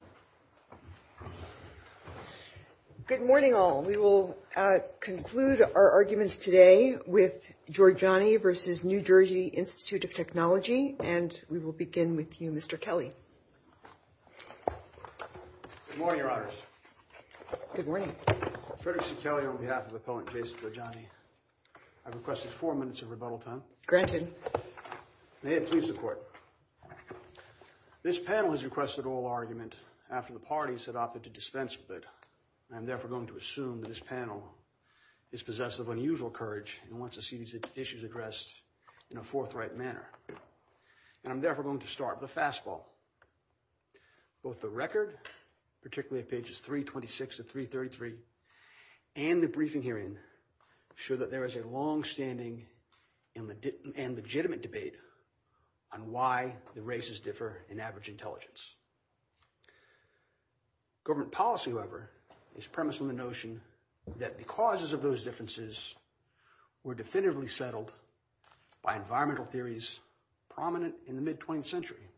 of Technology, and we will begin with you, Mr. Kelley. Good morning, Your Honors. Good morning. Frederic C. Kelley on behalf of the Appellant Case of Jorjani. I've requested four minutes of rebuttal time. Granted. May it please the Court. This panel has requested all argument in favor of the case of Jorjani after the parties had opted to dispense with it. I'm therefore going to assume that this panel is possessed of unusual courage and wants to see these issues addressed in a forthright manner. And I'm therefore going to start with a fastball. Both the record, particularly at pages 326 to 333, and the briefing hearing show that there is a longstanding and legitimate debate on why the races differ in average intelligence. Government policy, however, is premised on the notion that the causes of those differences were definitively settled by environmental theories prominent in the mid-20th century.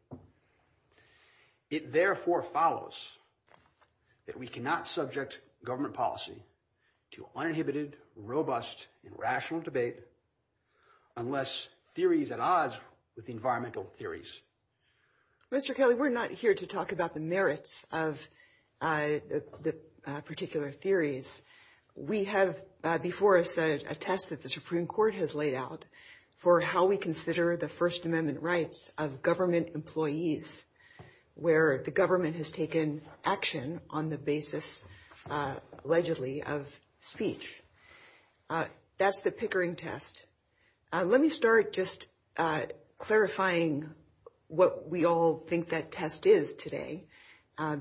It therefore follows that we cannot subject government policy to uninhibited, robust, and rational debate unless theory is at odds with environmental theories. Mr. Kelley, we're not here to talk about the merits of the particular theories. We have before us a test that the Supreme Court has laid out for how we consider the First Amendment rights of government employees where the government has That's the Pickering test. Let me start just clarifying what we all think that test is today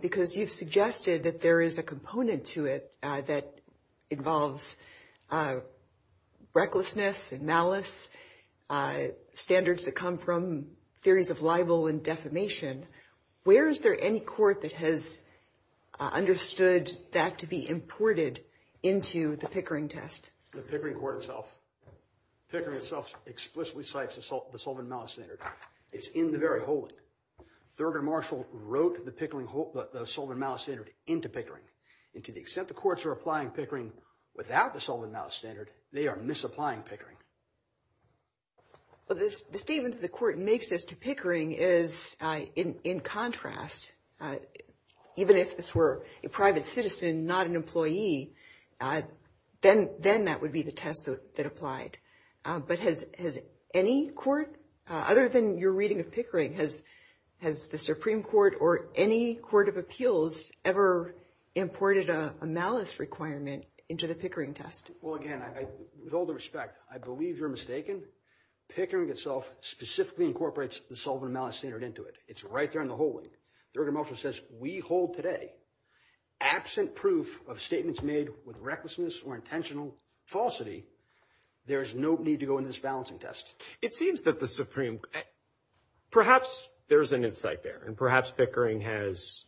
because you've suggested that there is a component to it that involves recklessness and malice, standards that come from theories of libel and defamation. Where is there any court that has understood that to be imported into the Pickering test? The Pickering court itself. Pickering itself explicitly cites the Sullivan Malice Standard. It's in the very holding. Thurgood Marshall wrote the Sullivan Malice Standard into Pickering, and to the extent the courts are applying Pickering without the Sullivan Malice Standard, they are misapplying Pickering. The statement that the court makes as to Pickering is, in contrast, even if this were a private citizen, not an employee, then that would be the test that applied. But has any court, other than your reading of Pickering, has the Supreme Court or any court of appeals ever imported a malice requirement into the Pickering test? Well, again, with all due respect, I believe you're mistaken. Pickering itself specifically incorporates the Sullivan Malice Standard into it. It's right there in the holding. Thurgood Marshall says we hold today, absent proof of statements made with recklessness or intentional falsity, there is no need to go into this balancing test. It seems that the Supreme – perhaps there's an insight there, and perhaps Pickering has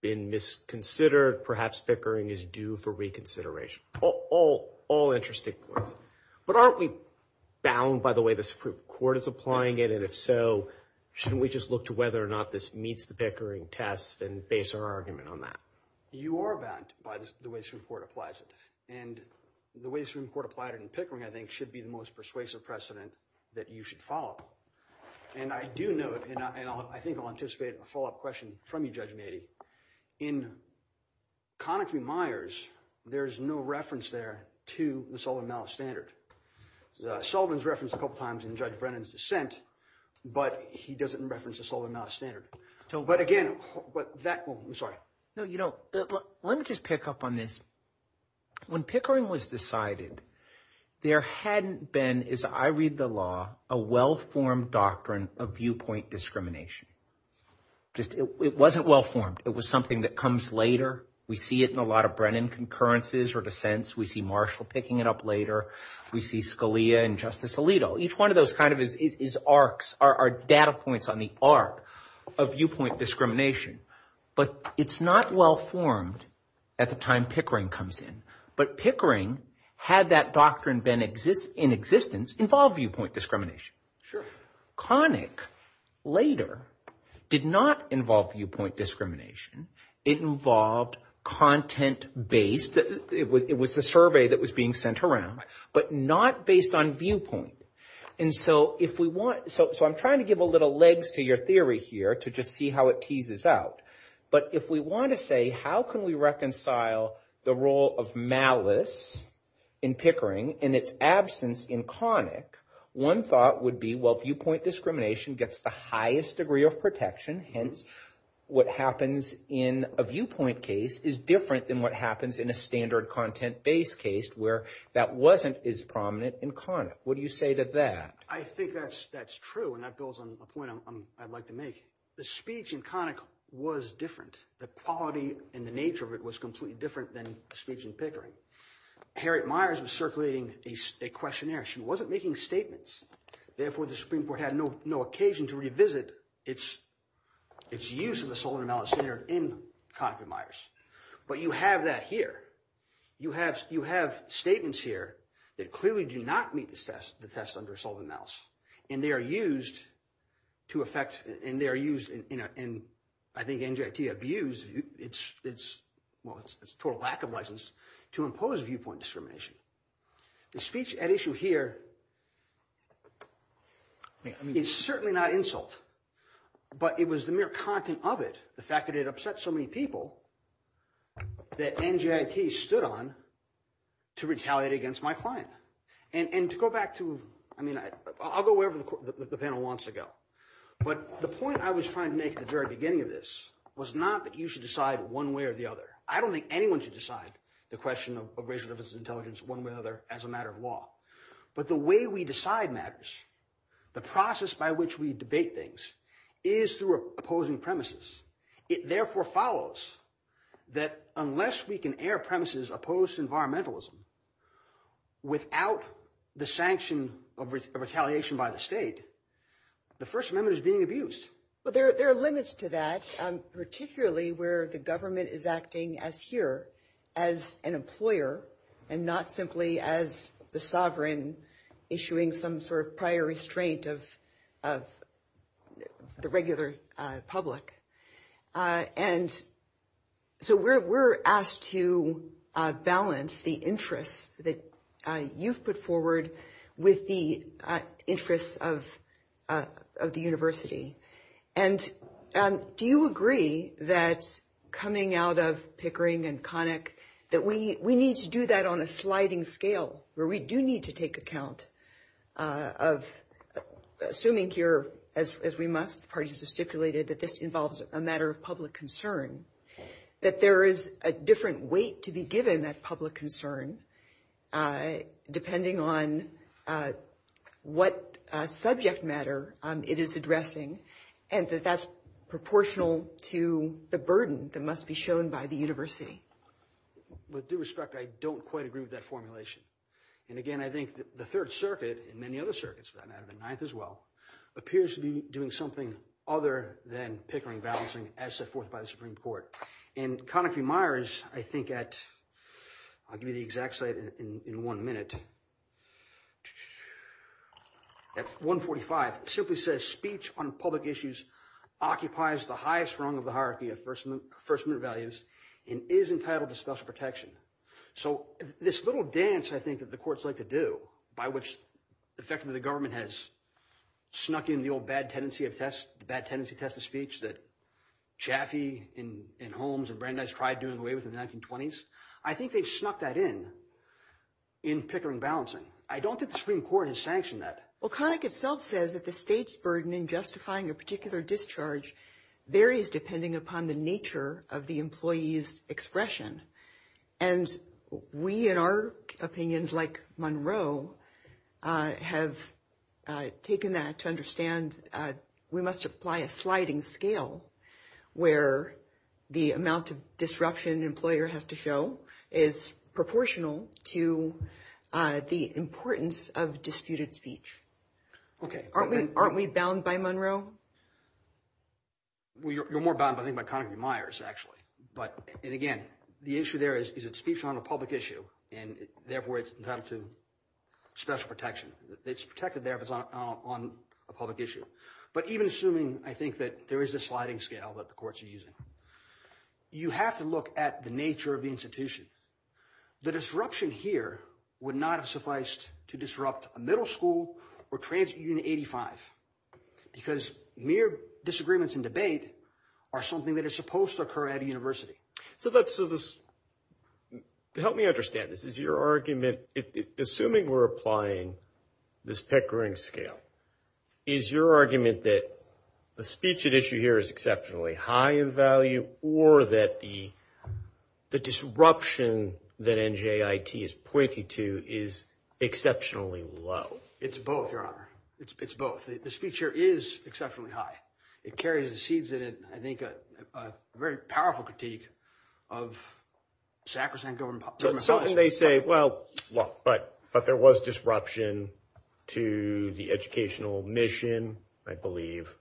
been misconsidered. Or perhaps Pickering is due for reconsideration. All interesting points. But aren't we bound by the way the Supreme Court is applying it? And if so, shouldn't we just look to whether or not this meets the Pickering test and base our argument on that? You are bound by the way the Supreme Court applies it. And the way the Supreme Court applied it in Pickering, I think, should be the most persuasive precedent that you should follow. And I do note, and I think I'll anticipate a follow-up question from you, Judge Mady, in Conakry-Meyers, there's no reference there to the Sullivan Malice Standard. Sullivan's referenced a couple times in Judge Brennan's dissent, but he doesn't reference the Sullivan Malice Standard. But again, that – I'm sorry. No, you know, let me just pick up on this. When Pickering was decided, there hadn't been, as I read the law, a well-formed doctrine of viewpoint discrimination. It wasn't well-formed. It was something that comes later. We see it in a lot of Brennan concurrences or dissents. We see Marshall picking it up later. We see Scalia and Justice Alito. Each one of those kind of is arcs, are data points on the arc of viewpoint discrimination. But it's not well-formed at the time Pickering comes in. But Pickering, had that doctrine been in existence, involved viewpoint discrimination. Sure. Conakry-Meyers later did not involve viewpoint discrimination. It involved content-based. It was the survey that was being sent around, but not based on viewpoint. And so if we want – so I'm trying to give a little legs to your theory here to just see how it teases out. But if we want to say how can we reconcile the role of malice in Pickering and its absence in Conakry-Meyers, one thought would be, well, viewpoint discrimination gets the highest degree of protection. Hence, what happens in a viewpoint case is different than what happens in a standard content-based case where that wasn't as prominent in Conakry-Meyers. What do you say to that? I think that's true, and that builds on a point I'd like to make. The speech in Conakry-Meyers was different. The quality and the nature of it was completely different than the speech in Pickering. Harriet Meyers was circulating a questionnaire. She wasn't making statements. Therefore, the Supreme Court had no occasion to revisit its use of the Sullivan-Mallis standard in Conakry-Meyers. But you have that here. You have statements here that clearly do not meet the test under Sullivan-Mallis, and they are used to effect – and they are used in, I think, NJT abused – well, it's a total lack of license – to impose viewpoint discrimination. The speech at issue here is certainly not insult, but it was the mere content of it, the fact that it upset so many people, that NJT stood on to retaliate against my client. And to go back to – I mean, I'll go wherever the panel wants to go. But the point I was trying to make at the very beginning of this was not that you should decide one way or the other. I don't think anyone should decide the question of racial intelligence one way or the other as a matter of law. But the way we decide matters. The process by which we debate things is through opposing premises. It therefore follows that unless we can air premises opposed to environmentalism without the sanction of retaliation by the state, the First Amendment is being abused. But there are limits to that, particularly where the government is acting as here, as an employer, and not simply as the sovereign issuing some sort of prior restraint of the regular public. And so we're asked to balance the interests that you've put forward with the interests of the university. And do you agree that coming out of Pickering and Connick that we need to do that on a sliding scale, where we do need to take account of – assuming here, as we must, the parties have stipulated that this involves a matter of public concern, that there is a different weight to be given that public concern depending on what subject matter it is addressing, and that that's proportional to the burden that must be shown by the university? With due respect, I don't quite agree with that formulation. And again, I think the Third Circuit, and many other circuits for that matter, the Ninth as well, appears to be doing something other than Pickering balancing as set forth by the Supreme Court. And Connick v. Myers, I think at – I'll give you the exact site in one minute – at 145, simply says speech on public issues occupies the highest rung of the hierarchy of First Amendment values and is entitled to special protection. So this little dance, I think, that the courts like to do, by which effectively the government has snuck in the old bad tendency test of speech that Chaffee and Holmes and Brandeis tried doing away with in the 1920s, I think they've snuck that in in Pickering balancing. I don't think the Supreme Court has sanctioned that. Well, Connick itself says that the state's burden in justifying a particular discharge varies depending upon the nature of the employee's expression. And we, in our opinions, like Monroe, have taken that to understand we must apply a sliding scale where the amount of disruption an employer has to show is proportional to the importance of disputed speech. Okay. Aren't we bound by Monroe? Well, you're more bound, I think, by Connick v. Myers, actually. And again, the issue there is that speech is on a public issue, and therefore it's entitled to special protection. It's protected there if it's on a public issue. But even assuming, I think, that there is a sliding scale that the courts are using, you have to look at the nature of the institution. The disruption here would not have sufficed to disrupt a middle school or trans-Union 85 because mere disagreements and debate are something that is supposed to occur at a university. So help me understand this. Is your argument, assuming we're applying this Pickering scale, is your argument that the speech at issue here is exceptionally high in value or that the disruption that NJIT is pointing to is exceptionally low? It's both, Your Honor. It's both. The speech here is exceptionally high. It carries the seeds in, I think, a very powerful critique of sacrosanct government policy. Something they say, well, but there was disruption to the educational mission, I believe.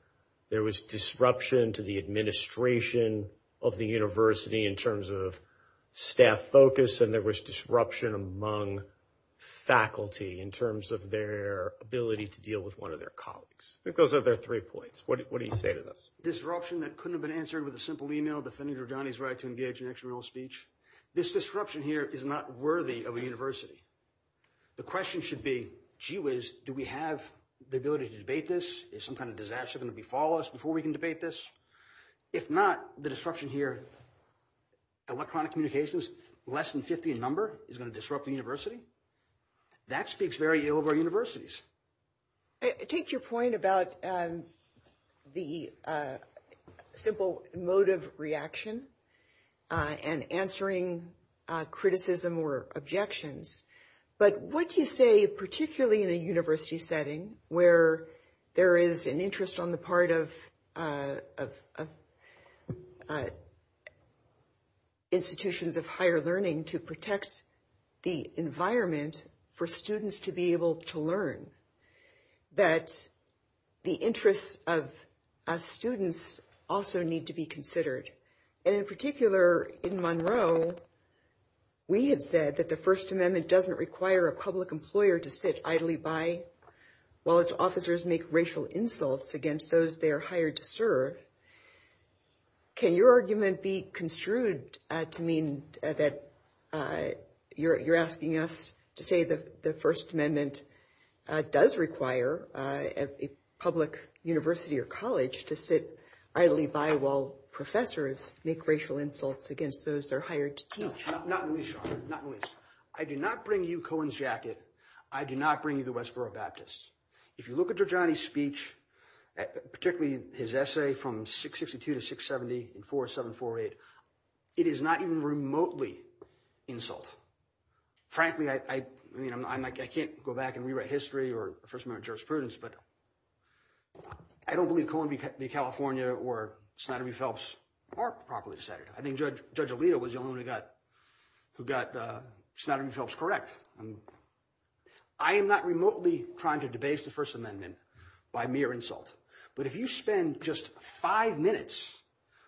There was disruption to the administration of the university in terms of staff focus, and there was disruption among faculty in terms of their ability to deal with one of their colleagues. I think those are their three points. What do you say to this? Disruption that couldn't have been answered with a simple e-mail, defending Rajani's right to engage in extramural speech. This disruption here is not worthy of a university. The question should be, gee whiz, do we have the ability to debate this? Is some kind of disaster going to befall us before we can debate this? If not, the disruption here, electronic communications, less than 50 in number, is going to disrupt the university? That speaks very ill of our universities. Take your point about the simple motive reaction and answering criticism or objections. But what do you say, particularly in a university setting where there is an interest on the part of institutions of higher learning to protect the environment for students to be able to learn, that the interests of students also need to be considered? And in particular, in Monroe, we had said that the First Amendment doesn't require a public employer to sit idly by while its officers make racial insults against those they are hired to serve. Can your argument be construed to mean that you're asking us to say that the First Amendment does require a public university or college to sit idly by while professors make racial insults against those they're hired to teach? Not in this, I do not bring you Cohen's jacket. I do not bring you the Westboro Baptists. If you look at Dr. Johnny's speech, particularly his essay from 662 to 670 in 4748, it is not even remotely insult. Frankly, I mean, I can't go back and rewrite history or First Amendment jurisprudence, but I don't believe Cohen v. California or Snider v. Phelps are properly decided. I think Judge Alito was the only one who got Snider v. Phelps correct. I am not remotely trying to debase the First Amendment by mere insult. But if you spend just five minutes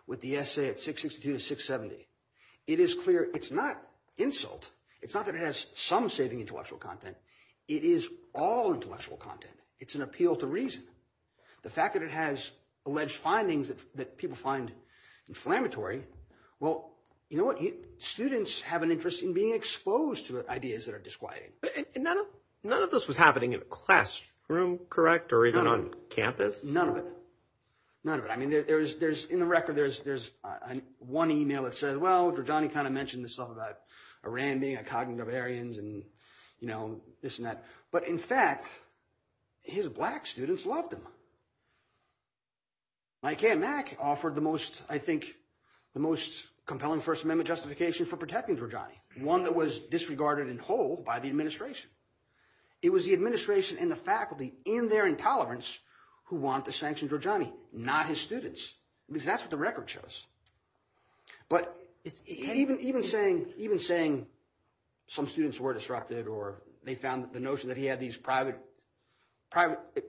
with the essay at 662 to 670, it is clear it's not insult. It's not that it has some saving intellectual content. It is all intellectual content. It's an appeal to reason. The fact that it has alleged findings that people find inflammatory. Well, you know what? Students have an interest in being exposed to ideas that are disquieting. None of this was happening in a classroom, correct, or even on campus? None of it. None of it. I mean, in the record, there's one email that says, well, Dr. Johnny kind of mentioned this stuff about Iran being a cognitive variance and this and that. But in fact, his black students loved him. I came back, offered the most, I think, the most compelling First Amendment justification for protecting for Johnny, one that was disregarded in whole by the administration. It was the administration and the faculty in their intolerance who want the sanctions or Johnny, not his students. That's what the record shows. But even saying some students were disrupted or they found the notion that he had these private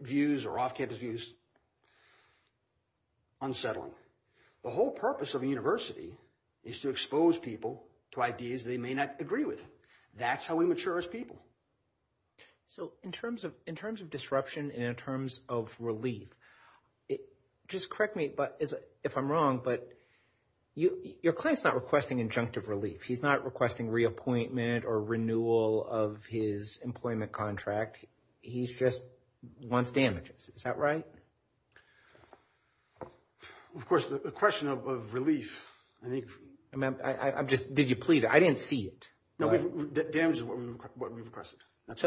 views or off-campus views unsettling. The whole purpose of a university is to expose people to ideas they may not agree with. That's how we mature as people. So in terms of disruption and in terms of relief, just correct me if I'm wrong, but your client's not requesting injunctive relief. He's not requesting reappointment or renewal of his employment contract. He just wants damages. Is that right? Of course, the question of relief. Did you plead? I didn't see it. No, damages is what we requested. And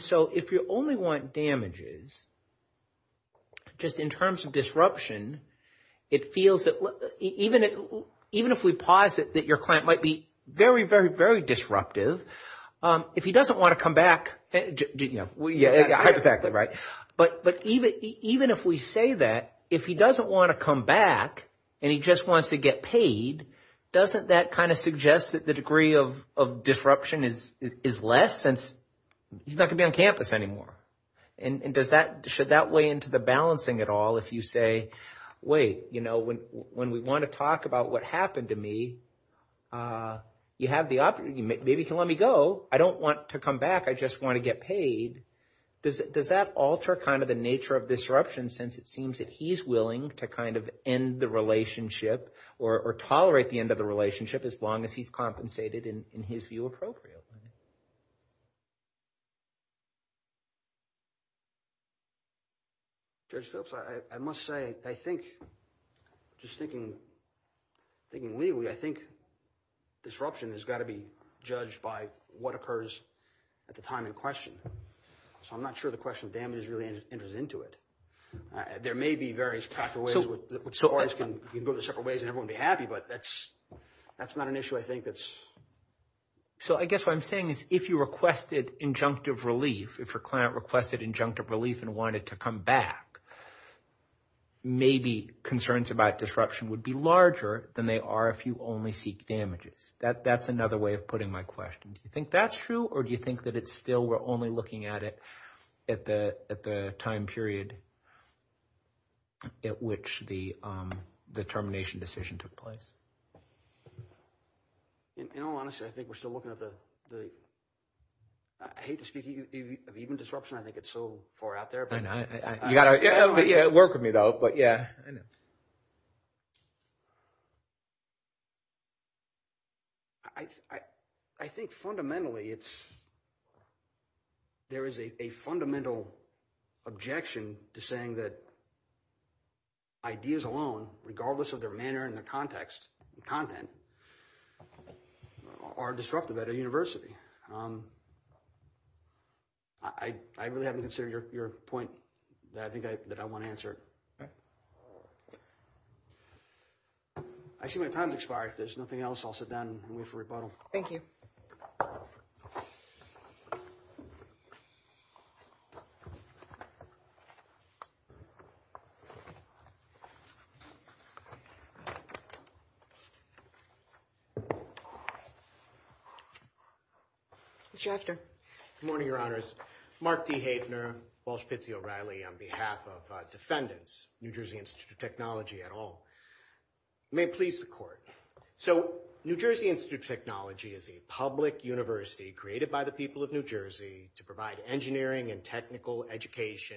so if you only want damages, just in terms of disruption, it feels that even if we posit that your client might be very, very, very disruptive, if he doesn't want to come back. Yeah, exactly right. But even if we say that, if he doesn't want to come back and he just wants to get paid, doesn't that kind of suggest that the degree of disruption is less since he's not going to be on campus anymore? And does that, should that weigh into the balancing at all if you say, wait, you know, when we want to talk about what happened to me, you have the opportunity. Maybe you can let me go. I don't want to come back. I just want to get paid. Does that alter kind of the nature of disruption since it seems that he's willing to kind of end the relationship or tolerate the end of the relationship as long as he's compensated in his view appropriately? I must say, I think, just thinking, thinking legally I think disruption has got to be judged by what occurs at the time in question. So I'm not sure the question of damage really enters into it. There may be various pathways which can go to separate ways and everyone would be happy, but that's not an issue I think that's. So I guess what I'm saying is if you requested injunctive relief, if your client requested injunctive relief and wanted to come back, maybe concerns about disruption would be larger than they are if you only seek damages. That's another way of putting my question. Do you think that's true or do you think that it's still we're only looking at it at the time period at which the termination decision took place? In all honesty, I think we're still looking at the – I hate to speak of even disruption. I think it's so far out there. I know. You've got to work with me though, but yeah. I know. I think fundamentally it's – there is a fundamental objection to saying that ideas alone, regardless of their manner and their context and content, are disruptive at a university. I really haven't considered your point that I think I – that I want to answer. Okay. I see my time has expired. If there's nothing else, I'll sit down and wait for rebuttal. Thank you. Good morning, Your Honors. Mark D. Havener, Walsh-Pizzi O'Reilly on behalf of defendants, New Jersey Institute of Technology at all. May it please the Court. So New Jersey Institute of Technology is a public university created by the people of New Jersey to provide engineering and technical education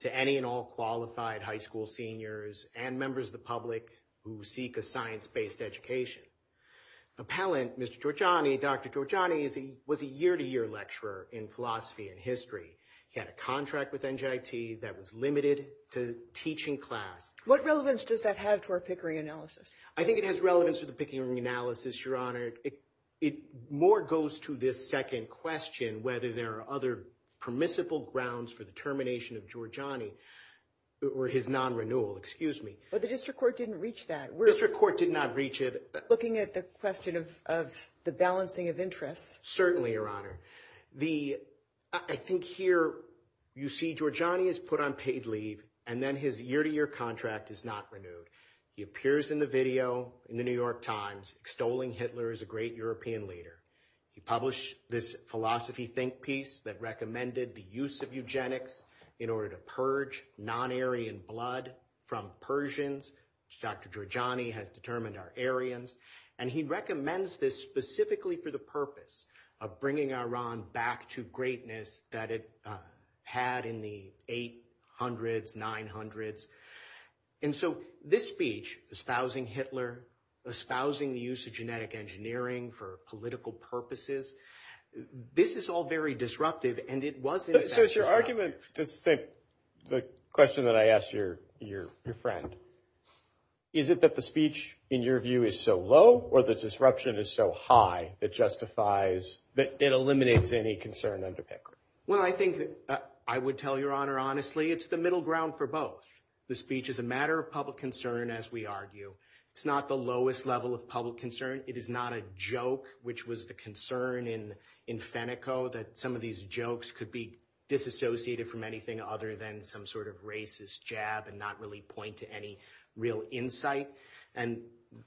to any and all qualified high school seniors and members of the public who seek a science-based education. Appellant, Mr. Giorgiani, Dr. Giorgiani, was a year-to-year lecturer in philosophy and history. He had a contract with NJIT that was limited to teaching class. What relevance does that have to our Pickering analysis? I think it has relevance to the Pickering analysis, Your Honor. It more goes to this second question, whether there are other permissible grounds for the termination of Giorgiani or his non-renewal. Excuse me. But the district court didn't reach that. District court did not reach it. Looking at the question of the balancing of interests. Certainly, Your Honor. I think here you see Giorgiani is put on paid leave and then his year-to-year contract is not renewed. He appears in the video in the New York Times extolling Hitler as a great European leader. He published this philosophy think piece that recommended the use of eugenics in order to purge non-Aryan blood from Persians. Dr. Giorgiani has determined our Aryans. And he recommends this specifically for the purpose of bringing Iran back to greatness that it had in the 800s, 900s. And so this speech, espousing Hitler, espousing the use of genetic engineering for political purposes, this is all very disruptive. And it wasn't. So it's your argument to say the question that I asked your friend. Is it that the speech in your view is so low or the disruption is so high that justifies that it eliminates any concern under Pickering? Well, I think I would tell Your Honor, honestly, it's the middle ground for both. The speech is a matter of public concern, as we argue. It's not the lowest level of public concern. It is not a joke, which was the concern in Feneco that some of these jokes could be disassociated from anything other than some sort of racist jab and not really point to any real insight. And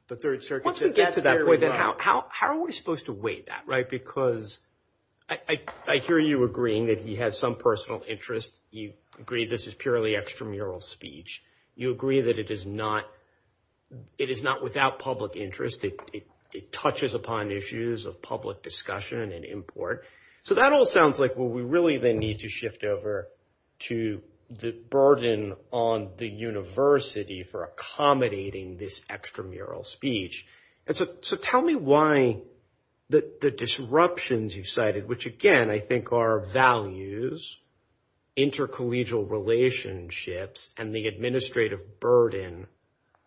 the Third Circuit said that. How are we supposed to weigh that? I hear you agreeing that he has some personal interest. You agree this is purely extramural speech. You agree that it is not without public interest. It touches upon issues of public discussion and import. So that all sounds like what we really then need to shift over to the burden on the university for accommodating this extramural speech. So tell me why the disruptions you cited, which, again, I think are values, intercollegial relationships, and the administrative burden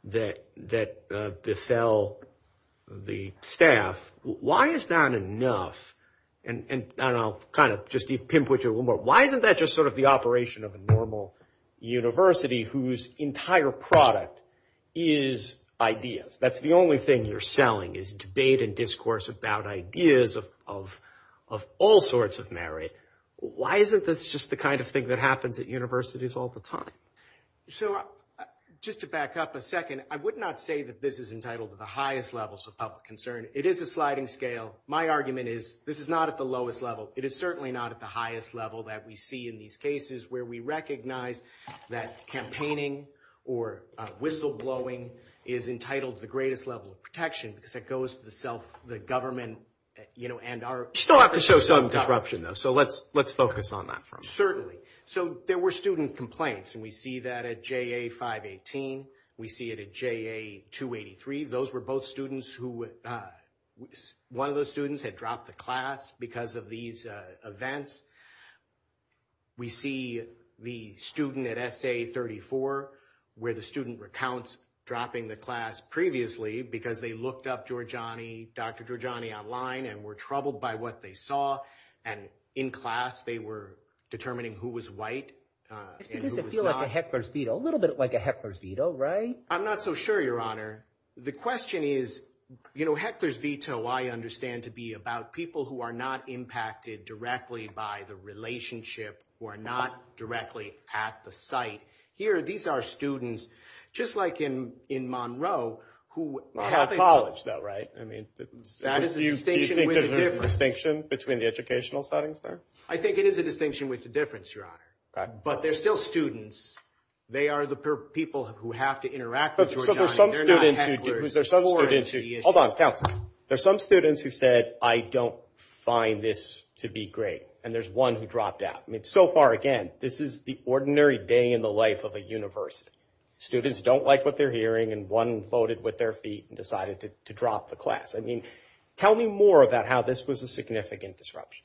that befell the staff. Why is that enough? And I'll kind of just pimp with you a little more. Why isn't that just sort of the operation of a normal university whose entire product is ideas? That's the only thing you're selling is debate and discourse about ideas of all sorts of merit. Why isn't this just the kind of thing that happens at universities all the time? So just to back up a second, I would not say that this is entitled to the highest levels of public concern. It is a sliding scale. My argument is this is not at the lowest level. It is certainly not at the highest level that we see in these cases where we recognize that campaigning or whistleblowing is entitled to the greatest level of protection because that goes to the government. You still have to show some disruption, though, so let's focus on that for a moment. Certainly. So there were student complaints, and we see that at JA 518. We see it at JA 283. One of those students had dropped the class because of these events. We see the student at SA 34 where the student recounts dropping the class previously because they looked up Dr. Giorgiani online and were troubled by what they saw, and in class they were determining who was white and who was not. It feels like a heckler's veto, a little bit like a heckler's veto, right? I'm not so sure, Your Honor. The question is, you know, heckler's veto, I understand to be about people who are not impacted directly by the relationship, who are not directly at the site. Here, these are students, just like in Monroe, who have a college, though, right? Do you think there's a distinction between the educational settings there? I think it is a distinction with the difference, Your Honor. But they're still students. They are the people who have to interact with Giorgiani. They're not hecklers. Hold on, counsel. There are some students who said, I don't find this to be great, and there's one who dropped out. I mean, so far, again, this is the ordinary day in the life of a university. Students don't like what they're hearing, and one floated with their feet and decided to drop the class. I mean, tell me more about how this was a significant disruption.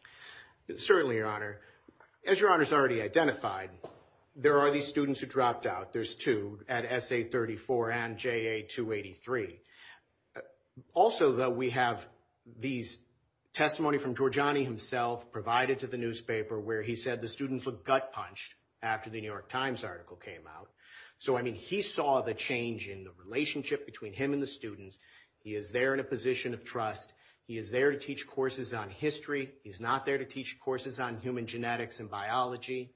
Certainly, Your Honor. As Your Honor has already identified, there are these students who dropped out. There's two at SA34 and JA283. Also, though, we have these testimony from Giorgiani himself provided to the newspaper where he said the students were gut-punched after the New York Times article came out. So, I mean, he saw the change in the relationship between him and the students. He is there in a position of trust. He is there to teach courses on history. He's not there to teach courses on human genetics and biology.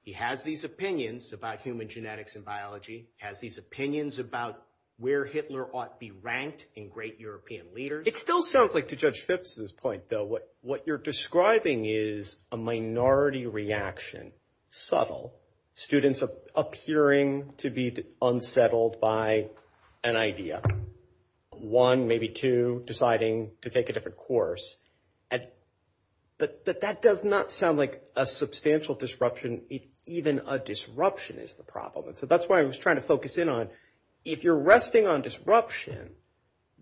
He has these opinions about human genetics and biology. He has these opinions about where Hitler ought to be ranked in great European leaders. It still sounds like, to Judge Phipps's point, though, what you're describing is a minority reaction. Subtle. Students appearing to be unsettled by an idea. One, maybe two, deciding to take a different course. But that does not sound like a substantial disruption. Even a disruption is the problem. And so that's why I was trying to focus in on, if you're resting on disruption,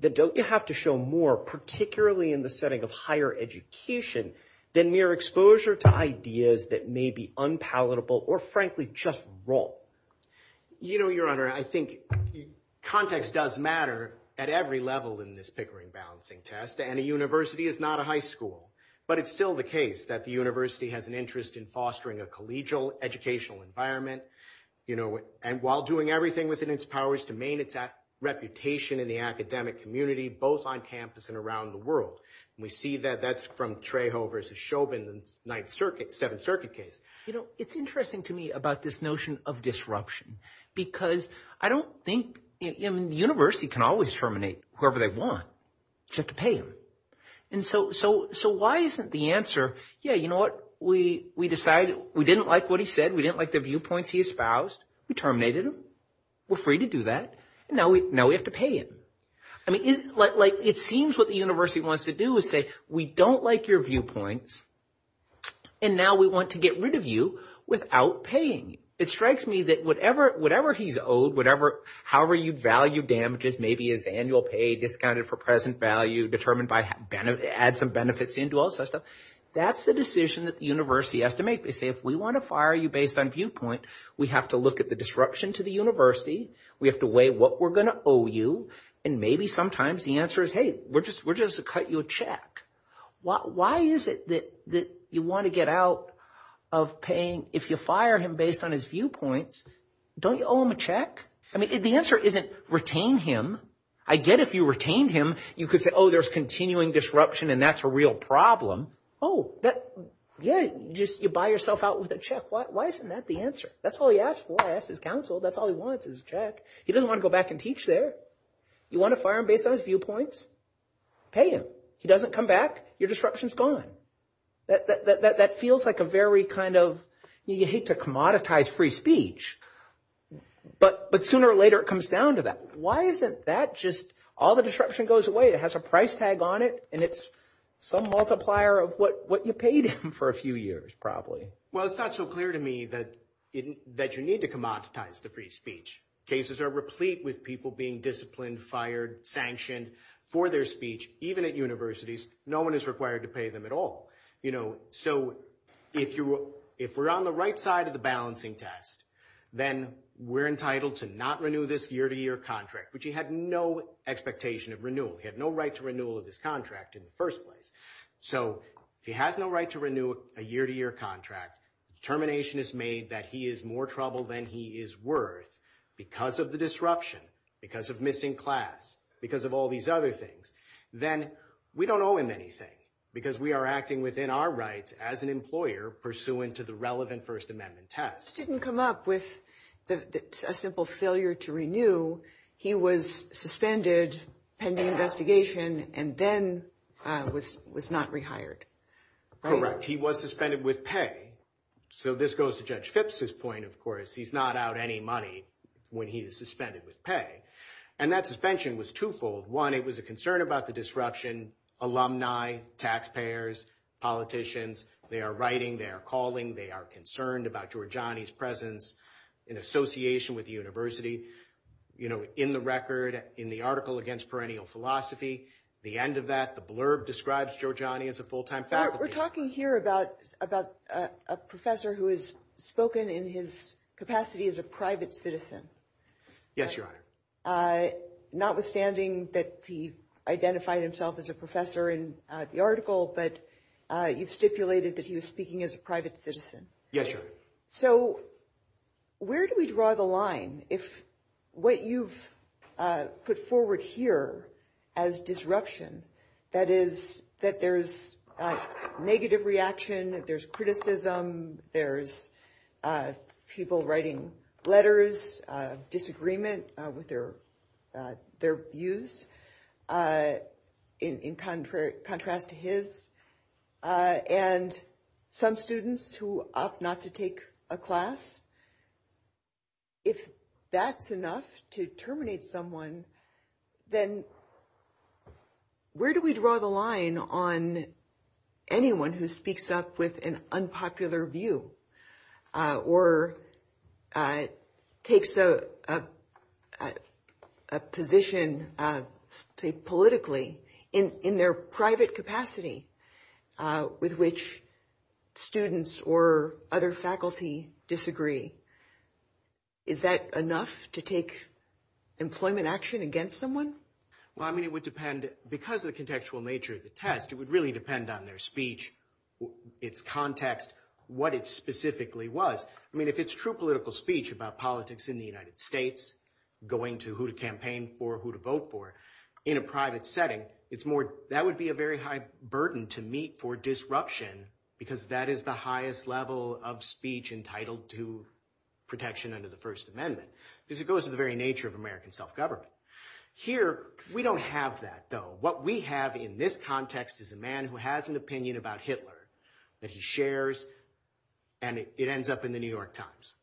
then don't you have to show more, particularly in the setting of higher education, than mere exposure to ideas that may be unpalatable or, frankly, just wrong? You know, Your Honor, I think context does matter at every level in this Pickering balancing test. And a university is not a high school. But it's still the case that the university has an interest in fostering a collegial educational environment, you know, and while doing everything within its powers to maintain its reputation in the academic community, both on campus and around the world. We see that that's from Trejo versus Chauvin, the Ninth Circuit, Seventh Circuit case. You know, it's interesting to me about this notion of disruption because I don't think the university can always terminate whoever they want. You just have to pay them. And so why isn't the answer, yeah, you know what, we decided we didn't like what he said. We didn't like the viewpoints he espoused. We terminated him. We're free to do that. And now we have to pay him. I mean, like it seems what the university wants to do is say we don't like your viewpoints. And now we want to get rid of you without paying. It strikes me that whatever he's owed, whatever, however you value damages, maybe his annual pay discounted for present value determined by add some benefits into all that stuff. That's the decision that the university has to make. They say if we want to fire you based on viewpoint, we have to look at the disruption to the university. We have to weigh what we're going to owe you. And maybe sometimes the answer is, hey, we're just going to cut you a check. Why is it that you want to get out of paying if you fire him based on his viewpoints? Don't you owe him a check? I mean, the answer isn't retain him. I get if you retain him, you could say, oh, there's continuing disruption and that's a real problem. Oh, yeah, you buy yourself out with a check. Why isn't that the answer? That's all he asks for. He asks his counsel. That's all he wants is a check. He doesn't want to go back and teach there. You want to fire him based on his viewpoints? Pay him. He doesn't come back. Your disruption is gone. That feels like a very kind of you hate to commoditize free speech. But sooner or later, it comes down to that. Why isn't that just all the disruption goes away? It has a price tag on it, and it's some multiplier of what you paid him for a few years probably. Well, it's not so clear to me that you need to commoditize the free speech. Cases are replete with people being disciplined, fired, sanctioned for their speech. Even at universities, no one is required to pay them at all. So if we're on the right side of the balancing test, then we're entitled to not renew this year-to-year contract. But you have no expectation of renewal. We have no right to renewal of this contract in the first place. So if he has no right to renew a year-to-year contract, determination is made that he is more trouble than he is worth because of the disruption, because of missing class, because of all these other things, then we don't owe him anything because we are acting within our rights as an employer pursuant to the relevant First Amendment test. The judge didn't come up with a simple failure to renew. He was suspended pending investigation and then was not rehired. Correct. He was suspended with pay. So this goes to Judge Phipps's point, of course. He's not out any money when he is suspended with pay. And that suspension was twofold. One, it was a concern about the disruption. Alumni, taxpayers, politicians, they are writing, they are calling, they are concerned about Giorgiani's presence in association with the university. You know, in the record, in the article against perennial philosophy, the end of that, the blurb describes Giorgiani as a full-time faculty member. We're talking here about a professor who has spoken in his capacity as a private citizen. Yes, Your Honor. Notwithstanding that he identified himself as a professor in the article, but you've stipulated that he was speaking as a private citizen. Yes, Your Honor. So where do we draw the line if what you've put forward here as disruption, that is that there's negative reaction, there's criticism, there's people writing letters, disagreement with their views in contrast to his, and some students who opt not to take a class. If that's enough to terminate someone, then where do we draw the line on anyone who speaks up with an unpopular view or takes a position politically in their private capacity with which students or other faculty disagree? Is that enough to take employment action against someone? Well, I mean, it would depend, because of the contextual nature of the test, it would really depend on their speech, its context, what it specifically was. I mean, if it's true political speech about politics in the United States, going to who to campaign for, who to vote for, in a private setting, that would be a very high burden to meet for disruption because that is the highest level of speech entitled to protection under the First Amendment because it goes to the very nature of American self-government. Here, we don't have that, though. What we have in this context is a man who has an opinion about Hitler that he shares, and it ends up in The New York Times.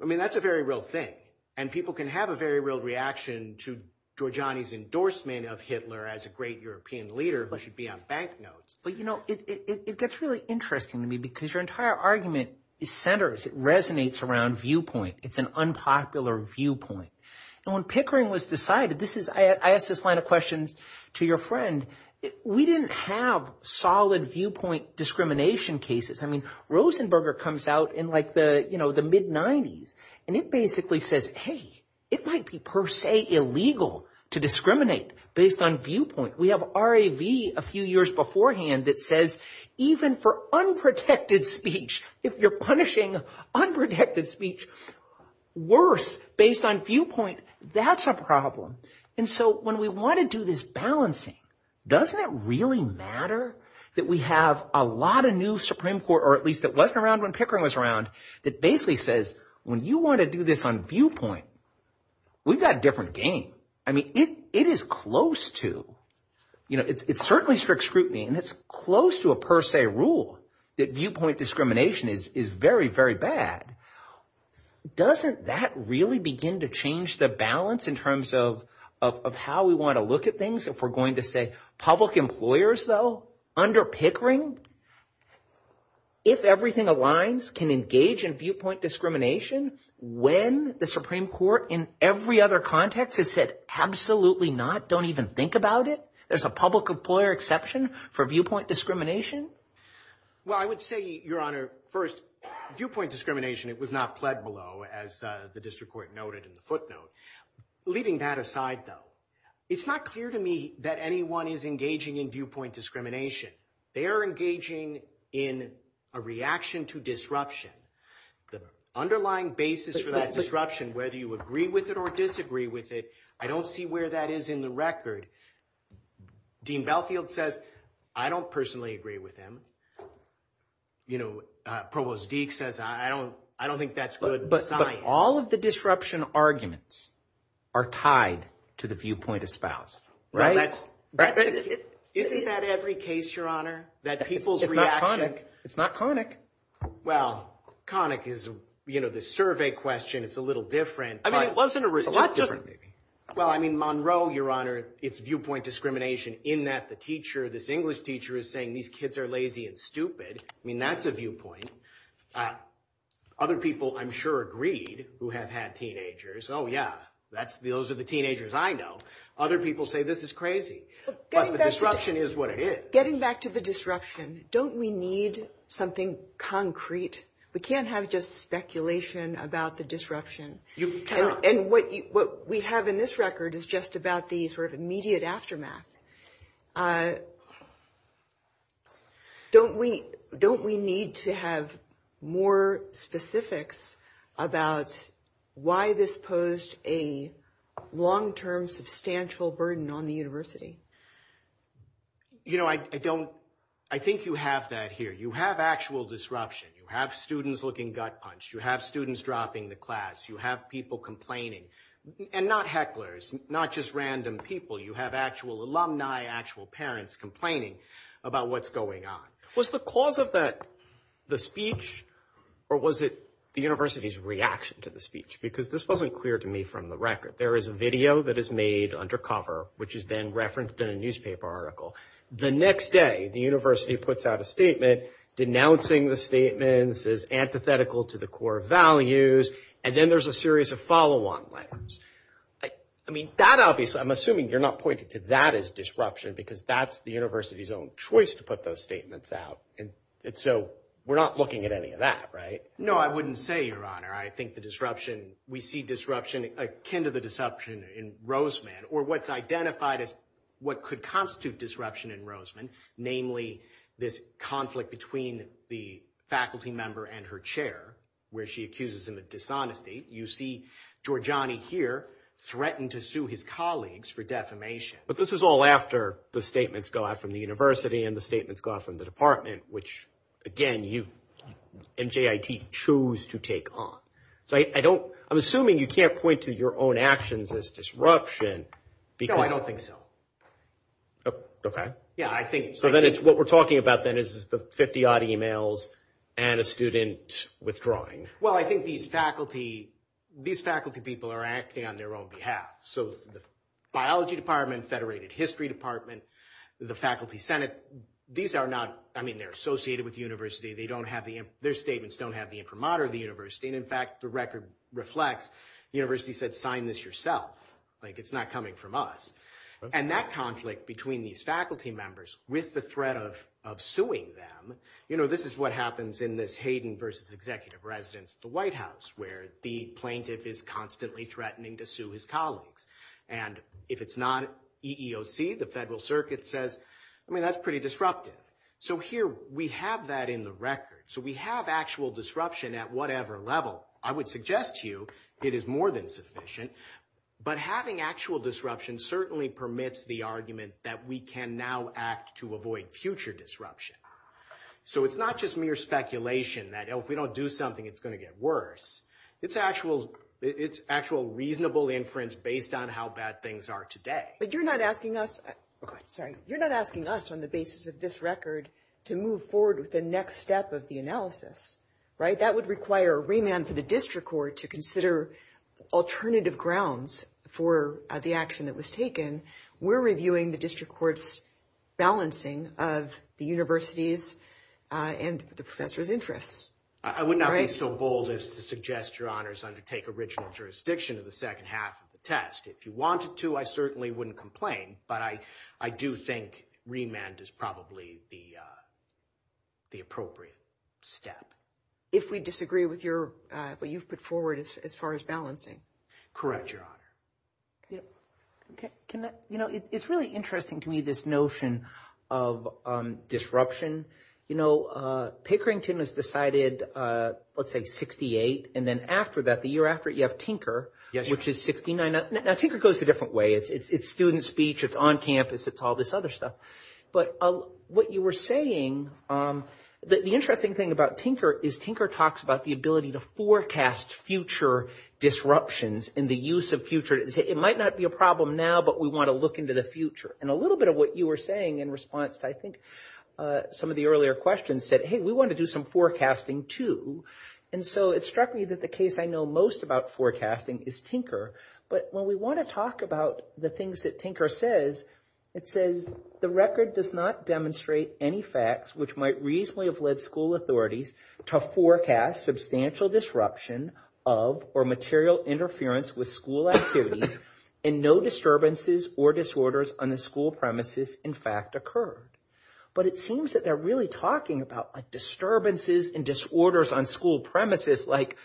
I mean, that's a very real thing, and people can have a very real reaction to Georgiani's endorsement of Hitler as a great European leader who should be on bank notes. But, you know, it gets really interesting to me because your entire argument centers, it resonates around viewpoint. It's an unpopular viewpoint. And when Pickering was decided, I asked this line of questions to your friend, we didn't have solid viewpoint discrimination cases. I mean, Rosenberger comes out in like the mid-'90s, and it basically says, hey, it might be per se illegal to discriminate based on viewpoint. We have RAV a few years beforehand that says even for unprotected speech, if you're punishing unprotected speech worse based on viewpoint, that's a problem. And so when we want to do this balancing, doesn't it really matter that we have a lot of new Supreme Court, or at least it wasn't around when Pickering was around, that basically says, when you want to do this on viewpoint, we've got a different game. I mean, it is close to, you know, it's certainly strict scrutiny, and it's close to a per se rule that viewpoint discrimination is very, very bad. Doesn't that really begin to change the balance in terms of how we want to look at things? If we're going to say public employers, though, under Pickering, if everything aligns can engage in viewpoint discrimination when the Supreme Court in every other context has said, absolutely not, don't even think about it. There's a public employer exception for viewpoint discrimination. Well, I would say, Your Honor, first viewpoint discrimination, it was not pled below as the district court noted in the footnote. Leaving that aside, though, it's not clear to me that anyone is engaging in viewpoint discrimination. They are engaging in a reaction to disruption. The underlying basis for that disruption, whether you agree with it or disagree with it, I don't see where that is in the record. Dean Belfield says, I don't personally agree with him. You know, Provost Deak says, I don't think that's good science. But all of the disruption arguments are tied to the viewpoint espoused, right? Isn't that every case, Your Honor, that people's reaction? It's not conic. Well, conic is, you know, the survey question. It's a little different. Well, I mean, Monroe, Your Honor, it's viewpoint discrimination in that the teacher, this English teacher is saying these kids are lazy and stupid. I mean, that's a viewpoint. Other people, I'm sure, agreed who have had teenagers. Oh, yeah, those are the teenagers I know. Other people say this is crazy. But the disruption is what it is. Getting back to the disruption, don't we need something concrete? We can't have just speculation about the disruption. And what we have in this record is just about the sort of immediate aftermath. Don't we need to have more specifics about why this posed a long-term, substantial burden on the university? You know, I think you have that here. You have actual disruption. You have students looking gut-punched. You have students dropping the class. You have people complaining. And not hecklers, not just random people. You have actual alumni, actual parents complaining about what's going on. Was the cause of that the speech, or was it the university's reaction to the speech? Because this wasn't clear to me from the record. There is a video that is made under cover, which is then referenced in a newspaper article. The next day, the university puts out a statement, denouncing the statements as antithetical to the core values. And then there's a series of follow-on letters. I mean, that obviously, I'm assuming you're not pointing to that as disruption, because that's the university's own choice to put those statements out. And so we're not looking at any of that, right? No, I wouldn't say, Your Honor. I think the disruption, we see disruption akin to the disruption in Roseman, or what's identified as what could constitute disruption in Roseman, namely this conflict between the faculty member and her chair, where she accuses him of dishonesty. You see Giorgiani here threatened to sue his colleagues for defamation. But this is all after the statements go out from the university and the statements go out from the department, which, again, you and JIT choose to take on. So I'm assuming you can't point to your own actions as disruption. No, I don't think so. Okay. Yeah, I think— So then it's what we're talking about then is the 50-odd emails and a student withdrawing. Well, I think these faculty people are acting on their own behalf. So the biology department, federated history department, the faculty senate, these are not— I mean, they're associated with the university. Their statements don't have the imprimatur of the university. And, in fact, the record reflects the university said sign this yourself. Like it's not coming from us. And that conflict between these faculty members with the threat of suing them, you know, this is what happens in this Hayden versus executive residence at the White House, where the plaintiff is constantly threatening to sue his colleagues. And if it's not EEOC, the federal circuit says, I mean, that's pretty disruptive. So here we have that in the record. So we have actual disruption at whatever level. I would suggest to you it is more than sufficient. But having actual disruption certainly permits the argument that we can now act to avoid future disruption. So it's not just mere speculation that if we don't do something, it's going to get worse. It's actual reasonable inference based on how bad things are today. But you're not asking us on the basis of this record to move forward with the next step of the analysis, right? That would require a remand for the district court to consider alternative grounds for the action that was taken. We're reviewing the district court's balancing of the university's and the professor's interests. I would not be so bold as to suggest your honors undertake original jurisdiction of the second half of the test. If you wanted to, I certainly wouldn't complain. But I do think remand is probably the appropriate step. If we disagree with what you've put forward as far as balancing. Correct, Your Honor. It's really interesting to me, this notion of disruption. You know, Pickerington has decided, let's say, 68. And then after that, the year after it, you have Tinker, which is 69. Now, Tinker goes a different way. It's student speech. It's on campus. It's all this other stuff. But what you were saying, the interesting thing about Tinker is Tinker talks about the ability to forecast future disruptions and the use of future. It might not be a problem now, but we want to look into the future. And a little bit of what you were saying in response to, I think, some of the earlier questions said, hey, we want to do some forecasting too. And so it struck me that the case I know most about forecasting is Tinker. But when we want to talk about the things that Tinker says, it says, the record does not demonstrate any facts which might reasonably have led school authorities to forecast substantial disruption of or material interference with school activities and no disturbances or disorders on the school premises, in fact, occurred. But it seems that they're really talking about disturbances and disorders on school premises, like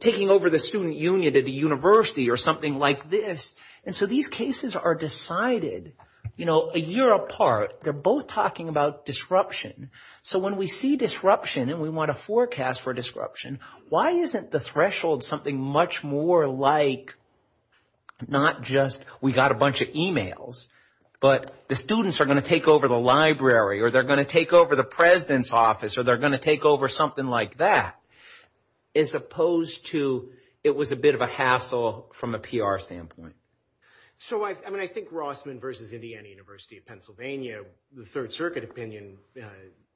taking over the student union at a university or something like this. And so these cases are decided a year apart. They're both talking about disruption. So when we see disruption and we want to forecast for disruption, why isn't the threshold something much more like not just we got a bunch of emails, but the students are going to take over the library or they're going to take over the president's office or they're going to take over something like that, as opposed to it was a bit of a hassle from a PR standpoint? So I mean, I think Rossman versus Indiana University of Pennsylvania, the Third Circuit opinion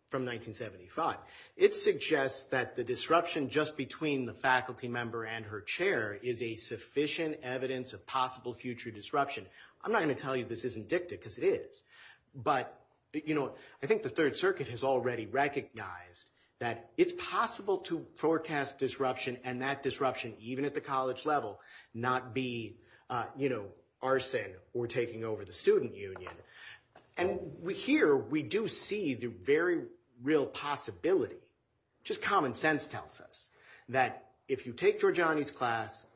from 1975, it suggests that the disruption just between the faculty member and her chair is a sufficient evidence of possible future disruption. I'm not going to tell you this isn't dicta because it is, but I think the Third Circuit has already recognized that it's possible to forecast disruption and that disruption, even at the college level, not be arson or taking over the student union. And here we do see the very real possibility, just common sense tells us, that if you take Georgiani's class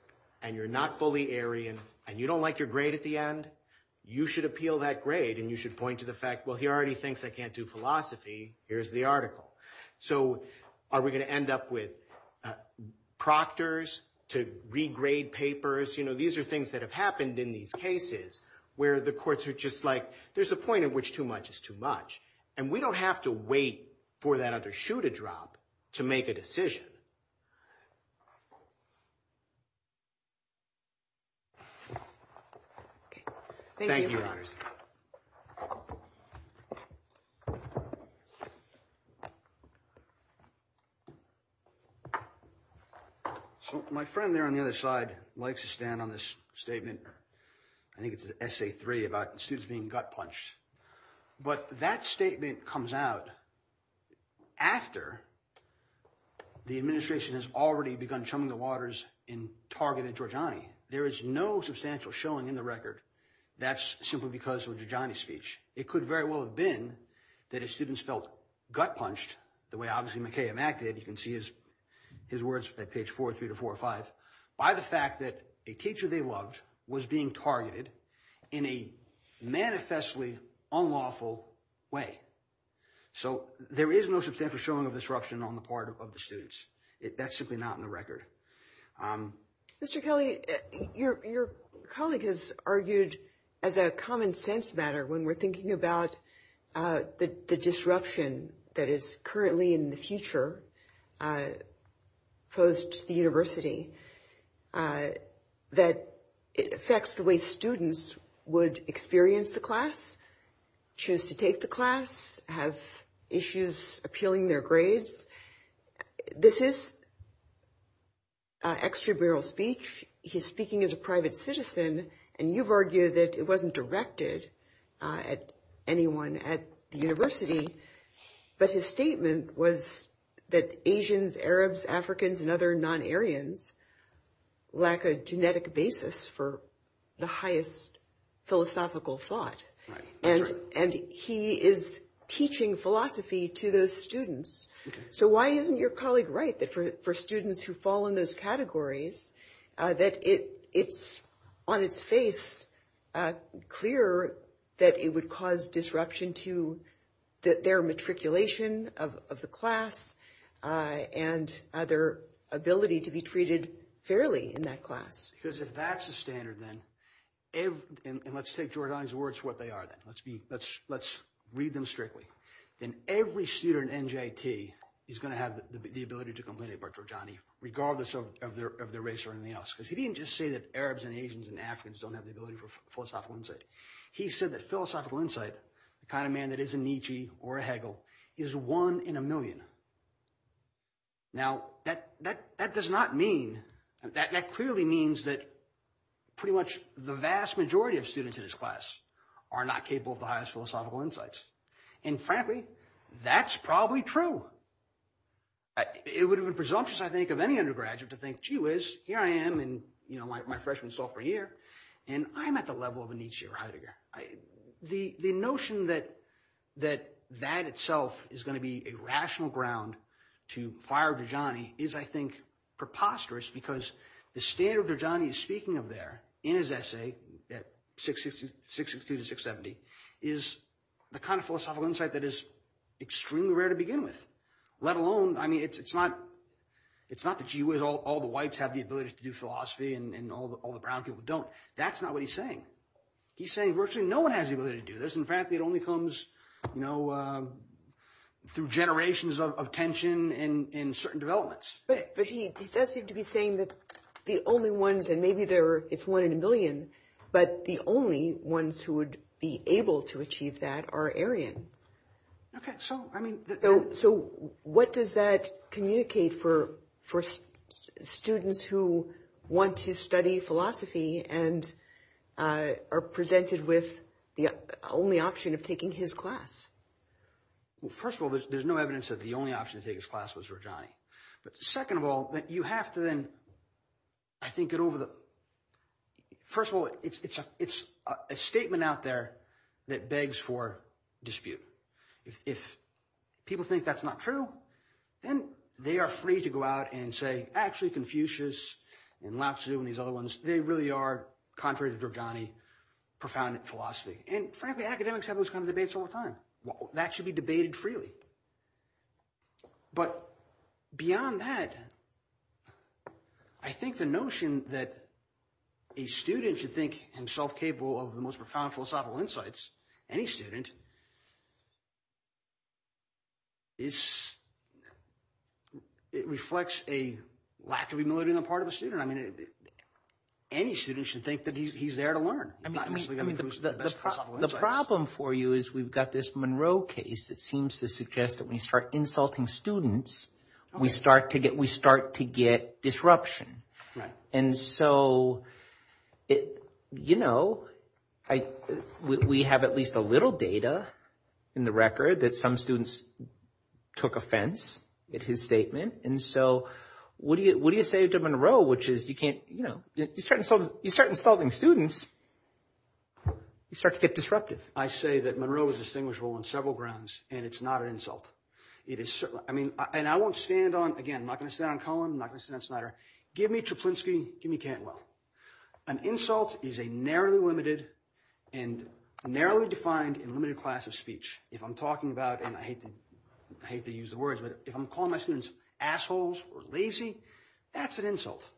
and you're not fully Aryan and you don't like your grade at the end, you should appeal that grade and you should point to the fact, well, he already thinks I can't do philosophy, here's the article. So are we going to end up with proctors to regrade papers? These are things that have happened in these cases where the courts are just like, there's a point at which too much is too much. And we don't have to wait for that other shoe to drop to make a decision. Thank you. So, my friend there on the other side likes to stand on this statement. I think it's an essay three about students being gut punched. But that statement comes out after the administration has already begun chumming the waters in targeted Georgiani, there is no substantial showing in the record. That's simply because of Georgiani's speech. It could very well have been that his students felt gut punched, the way obviously McKay and Mac did, you can see his words at page four, three to four or five, by the fact that a teacher they loved was being targeted in a manifestly unlawful way. So, there is no substantial showing of disruption on the part of the students. That's simply not in the record. Mr. Kelly, your colleague has argued as a common sense matter when we're thinking about the disruption that is currently in the future, post the university, that it affects the way students would experience the class, choose to take the class, have issues appealing their grades. This is extramural speech. He's speaking as a private citizen. And you've argued that it wasn't directed at anyone at the university. But his statement was that Asians, Arabs, Africans and other non-Aryans lack a genetic basis for the highest philosophical thought. And he is teaching philosophy to those students. So, why isn't your colleague right that for students who fall in those categories, that it's on its face clear that it would cause disruption to their matriculation of the class and their ability to be treated fairly in that class? Because if that's the standard then, and let's take Giordani's words for what they are, let's read them strictly, then every student in NJT is going to have the ability to complain about Giordani regardless of their race or anything else. Because he didn't just say that Arabs and Asians and Africans don't have the ability for philosophical insight. He said that philosophical insight, the kind of man that is a Nietzsche or a Hegel, is one in a million. Now, that does not mean, that clearly means that pretty much the vast majority of students in his class are not capable of the highest philosophical insights. And frankly, that's probably true. It would have been presumptuous, I think, of any undergraduate to think, gee whiz, here I am in my freshman, sophomore year and I'm at the level of a Nietzsche or Heidegger. The notion that that itself is going to be a rational ground to fire Giordani is, I think, preposterous because the standard Giordani is speaking of there in his essay at 662 to 670 is the kind of philosophical insight that is extremely rare to begin with. Let alone, I mean, it's not the gee whiz, all the whites have the ability to do philosophy and all the brown people don't. That's not what he's saying. He's saying virtually no one has the ability to do this. In fact, it only comes through generations of tension and certain developments. But he does seem to be saying that the only ones, and maybe it's one in a million, but the only ones who would be able to achieve that are Aryan. So what does that communicate for students who want to study philosophy and are presented with the only option of taking his class? Well, first of all, there's no evidence that the only option to take his class was Giordani. But second of all, you have to then, I think, get over the — first of all, it's a statement out there that begs for dispute. If people think that's not true, then they are free to go out and say, actually, Confucius and Lao Tzu and these other ones, they really are, contrary to Giordani, profound in philosophy. And frankly, academics have those kinds of debates all the time. That should be debated freely. But beyond that, I think the notion that a student should think himself capable of the most profound philosophical insights, any student, is — it reflects a lack of humility on the part of a student. I mean any student should think that he's there to learn. The problem for you is we've got this Monroe case that seems to suggest that when you start insulting students, we start to get disruption. And so, you know, we have at least a little data in the record that some students took offense at his statement. And so what do you say to Monroe, which is you can't — you know, you start insulting students, you start to get disruptive. I say that Monroe was distinguishable on several grounds, and it's not an insult. It is — I mean, and I won't stand on — again, I'm not going to stand on Cohen. I'm not going to stand on Snyder. Give me Treplinsky. Give me Cantwell. An insult is a narrowly limited and narrowly defined and limited class of speech. If I'm talking about — and I hate to use the words, but if I'm calling my students assholes or lazy, that's an insult,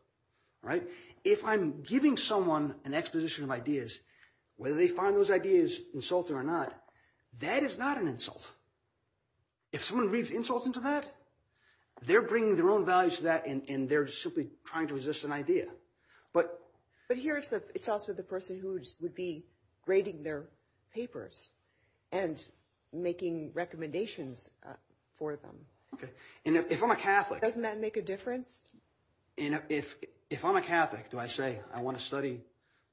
right? If I'm giving someone an exposition of ideas, whether they find those ideas insulting or not, that is not an insult. If someone reads insults into that, they're bringing their own values to that, and they're simply trying to resist an idea. But here it's also the person who would be grading their papers and making recommendations for them. Okay. And if I'm a Catholic — Doesn't that make a difference? If I'm a Catholic, do I say I want to study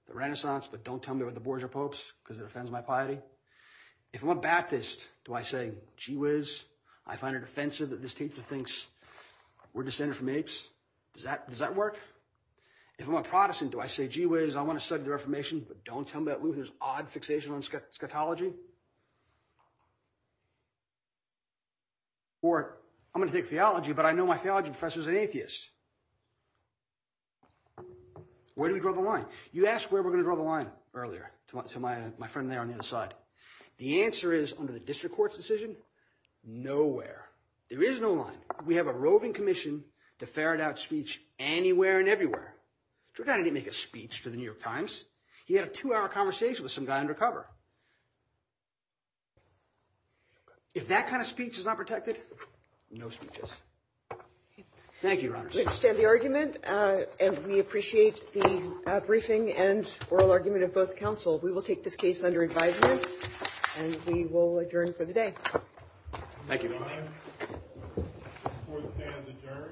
the Renaissance but don't tell me what the Borgia Popes because it offends my piety? If I'm a Baptist, do I say gee whiz, I find it offensive that this teacher thinks we're descended from apes? Does that work? If I'm a Protestant, do I say gee whiz, I want to study the Reformation but don't tell me that Luther's odd fixation on scatology? Or I'm going to take theology, but I know my theology professor's an atheist. Where do we draw the line? You asked where we're going to draw the line earlier to my friend there on the other side. The answer is under the district court's decision, nowhere. There is no line. We have a roving commission to ferret out speech anywhere and everywhere. Trudeau didn't make a speech for the New York Times. He had a two-hour conversation with some guy undercover. If that kind of speech is not protected, no speeches. Thank you, Your Honor. We understand the argument, and we appreciate the briefing and oral argument of both counsel. We will take this case under advisement, and we will adjourn for the day. Thank you, Your Honor. This court stands adjourned. Thank you.